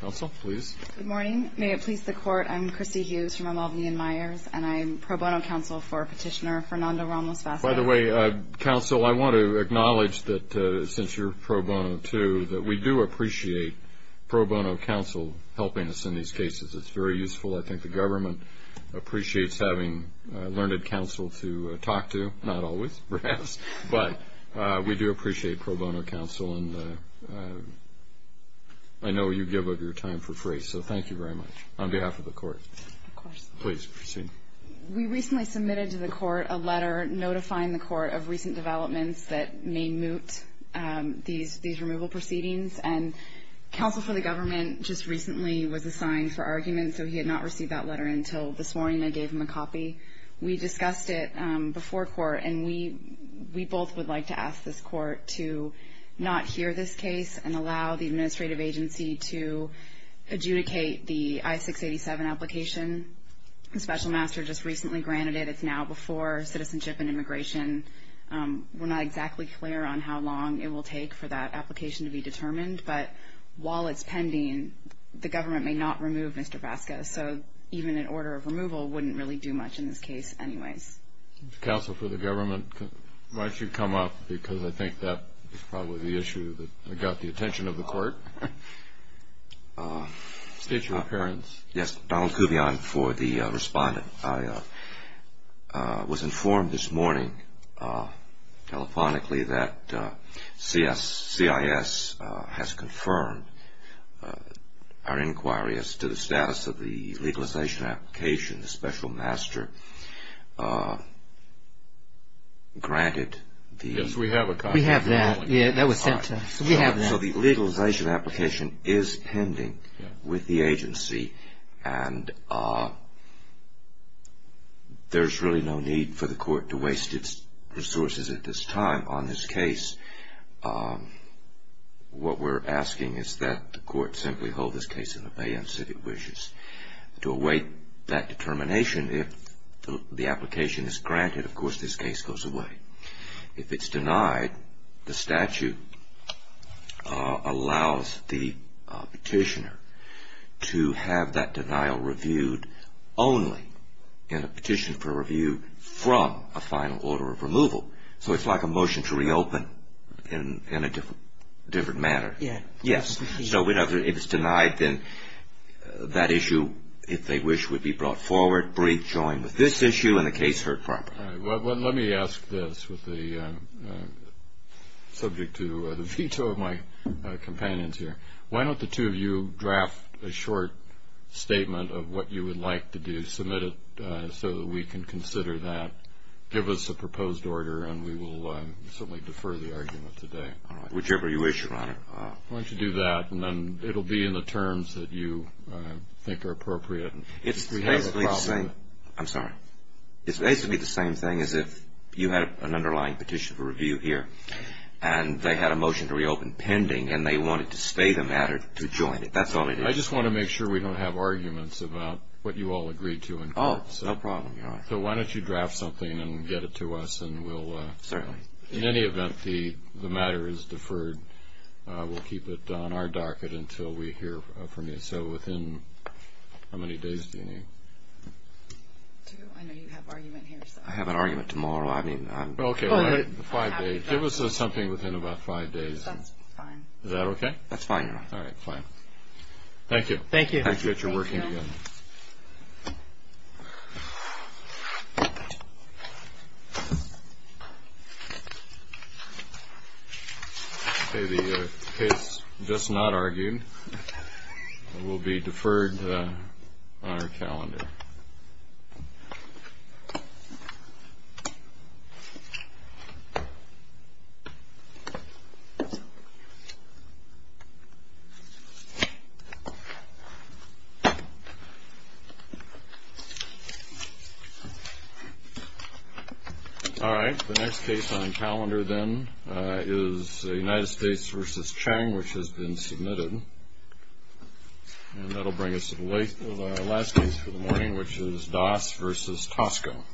Good morning. May it please the Court, I'm Christy Hughes from Albany and Myers, and I'm pro bono counsel for petitioner Fernando Ramos-Vazquez. By the way, counsel, I want to acknowledge that since you're pro bono, too, that we do appreciate pro bono counsel helping us in these cases. It's very useful. I think the government appreciates having learned counsel to talk to, not always, perhaps, but we do appreciate pro bono counsel. And I know you give of your time for grace, so thank you very much on behalf of the Court. Of course. Please proceed. We recently submitted to the Court a letter notifying the Court of recent developments that may moot these removal proceedings. And counsel for the government just recently was assigned for argument, so he had not received that letter until this morning. I gave him a copy. We discussed it before court, and we both would like to ask this Court to not hear this case and allow the administrative agency to adjudicate the I-687 application. The special master just recently granted it. It's now before citizenship and immigration. We're not exactly clear on how long it will take for that application to be determined, but while it's pending, the government may not remove Mr. Vasquez, so even an order of removal wouldn't really do much in this case anyways. Counsel for the government, why don't you come up? Because I think that is probably the issue that got the attention of the Court. State your appearance. Yes, Donald Kubian for the respondent. I was informed this morning telephonically that CIS has confirmed our inquiry as to the status of the legalization application. The special master granted the- Yes, we have a copy. We have that. Yeah, that was sent to us. So we have that. The legalization application is pending with the agency, and there's really no need for the Court to waste its resources at this time on this case. What we're asking is that the Court simply hold this case in abeyance of its wishes. To await that determination, if the application is granted, of course this case goes away. If it's denied, the statute allows the petitioner to have that denial reviewed only in a petition for review from a final order of removal. So it's like a motion to reopen in a different manner. Yeah. Yes. So if it's denied, then that issue, if they wish, would be brought forward, rejoined with this issue, and the case heard properly. All right. Well, let me ask this, subject to the veto of my companions here. Why don't the two of you draft a short statement of what you would like to do, submit it so that we can consider that, give us a proposed order, and we will certainly defer the argument today. Whichever you wish, Your Honor. Why don't you do that, and then it will be in the terms that you think are appropriate. It's basically the same. I'm sorry. It's basically the same thing as if you had an underlying petition for review here, and they had a motion to reopen pending, and they wanted to spay the matter to join it. That's all it is. I just want to make sure we don't have arguments about what you all agreed to in court. Oh, no problem, Your Honor. So why don't you draft something and get it to us, and we'll – Certainly. In any event, the matter is deferred. We'll keep it on our docket until we hear from you. So within how many days do you need? I know you have argument here. I have an argument tomorrow. I mean, I'm – Okay. Five days. Give us something within about five days. That's fine. Is that okay? That's fine, Your Honor. All right. Fine. Thank you. Thank you. Thank you. I appreciate your working together. Okay. The case just not argued will be deferred on our calendar. All right. The next case on the calendar, then, is United States v. Chang, which has been submitted. And that will bring us to the length of our last case for the morning, which is Das v. Tosco.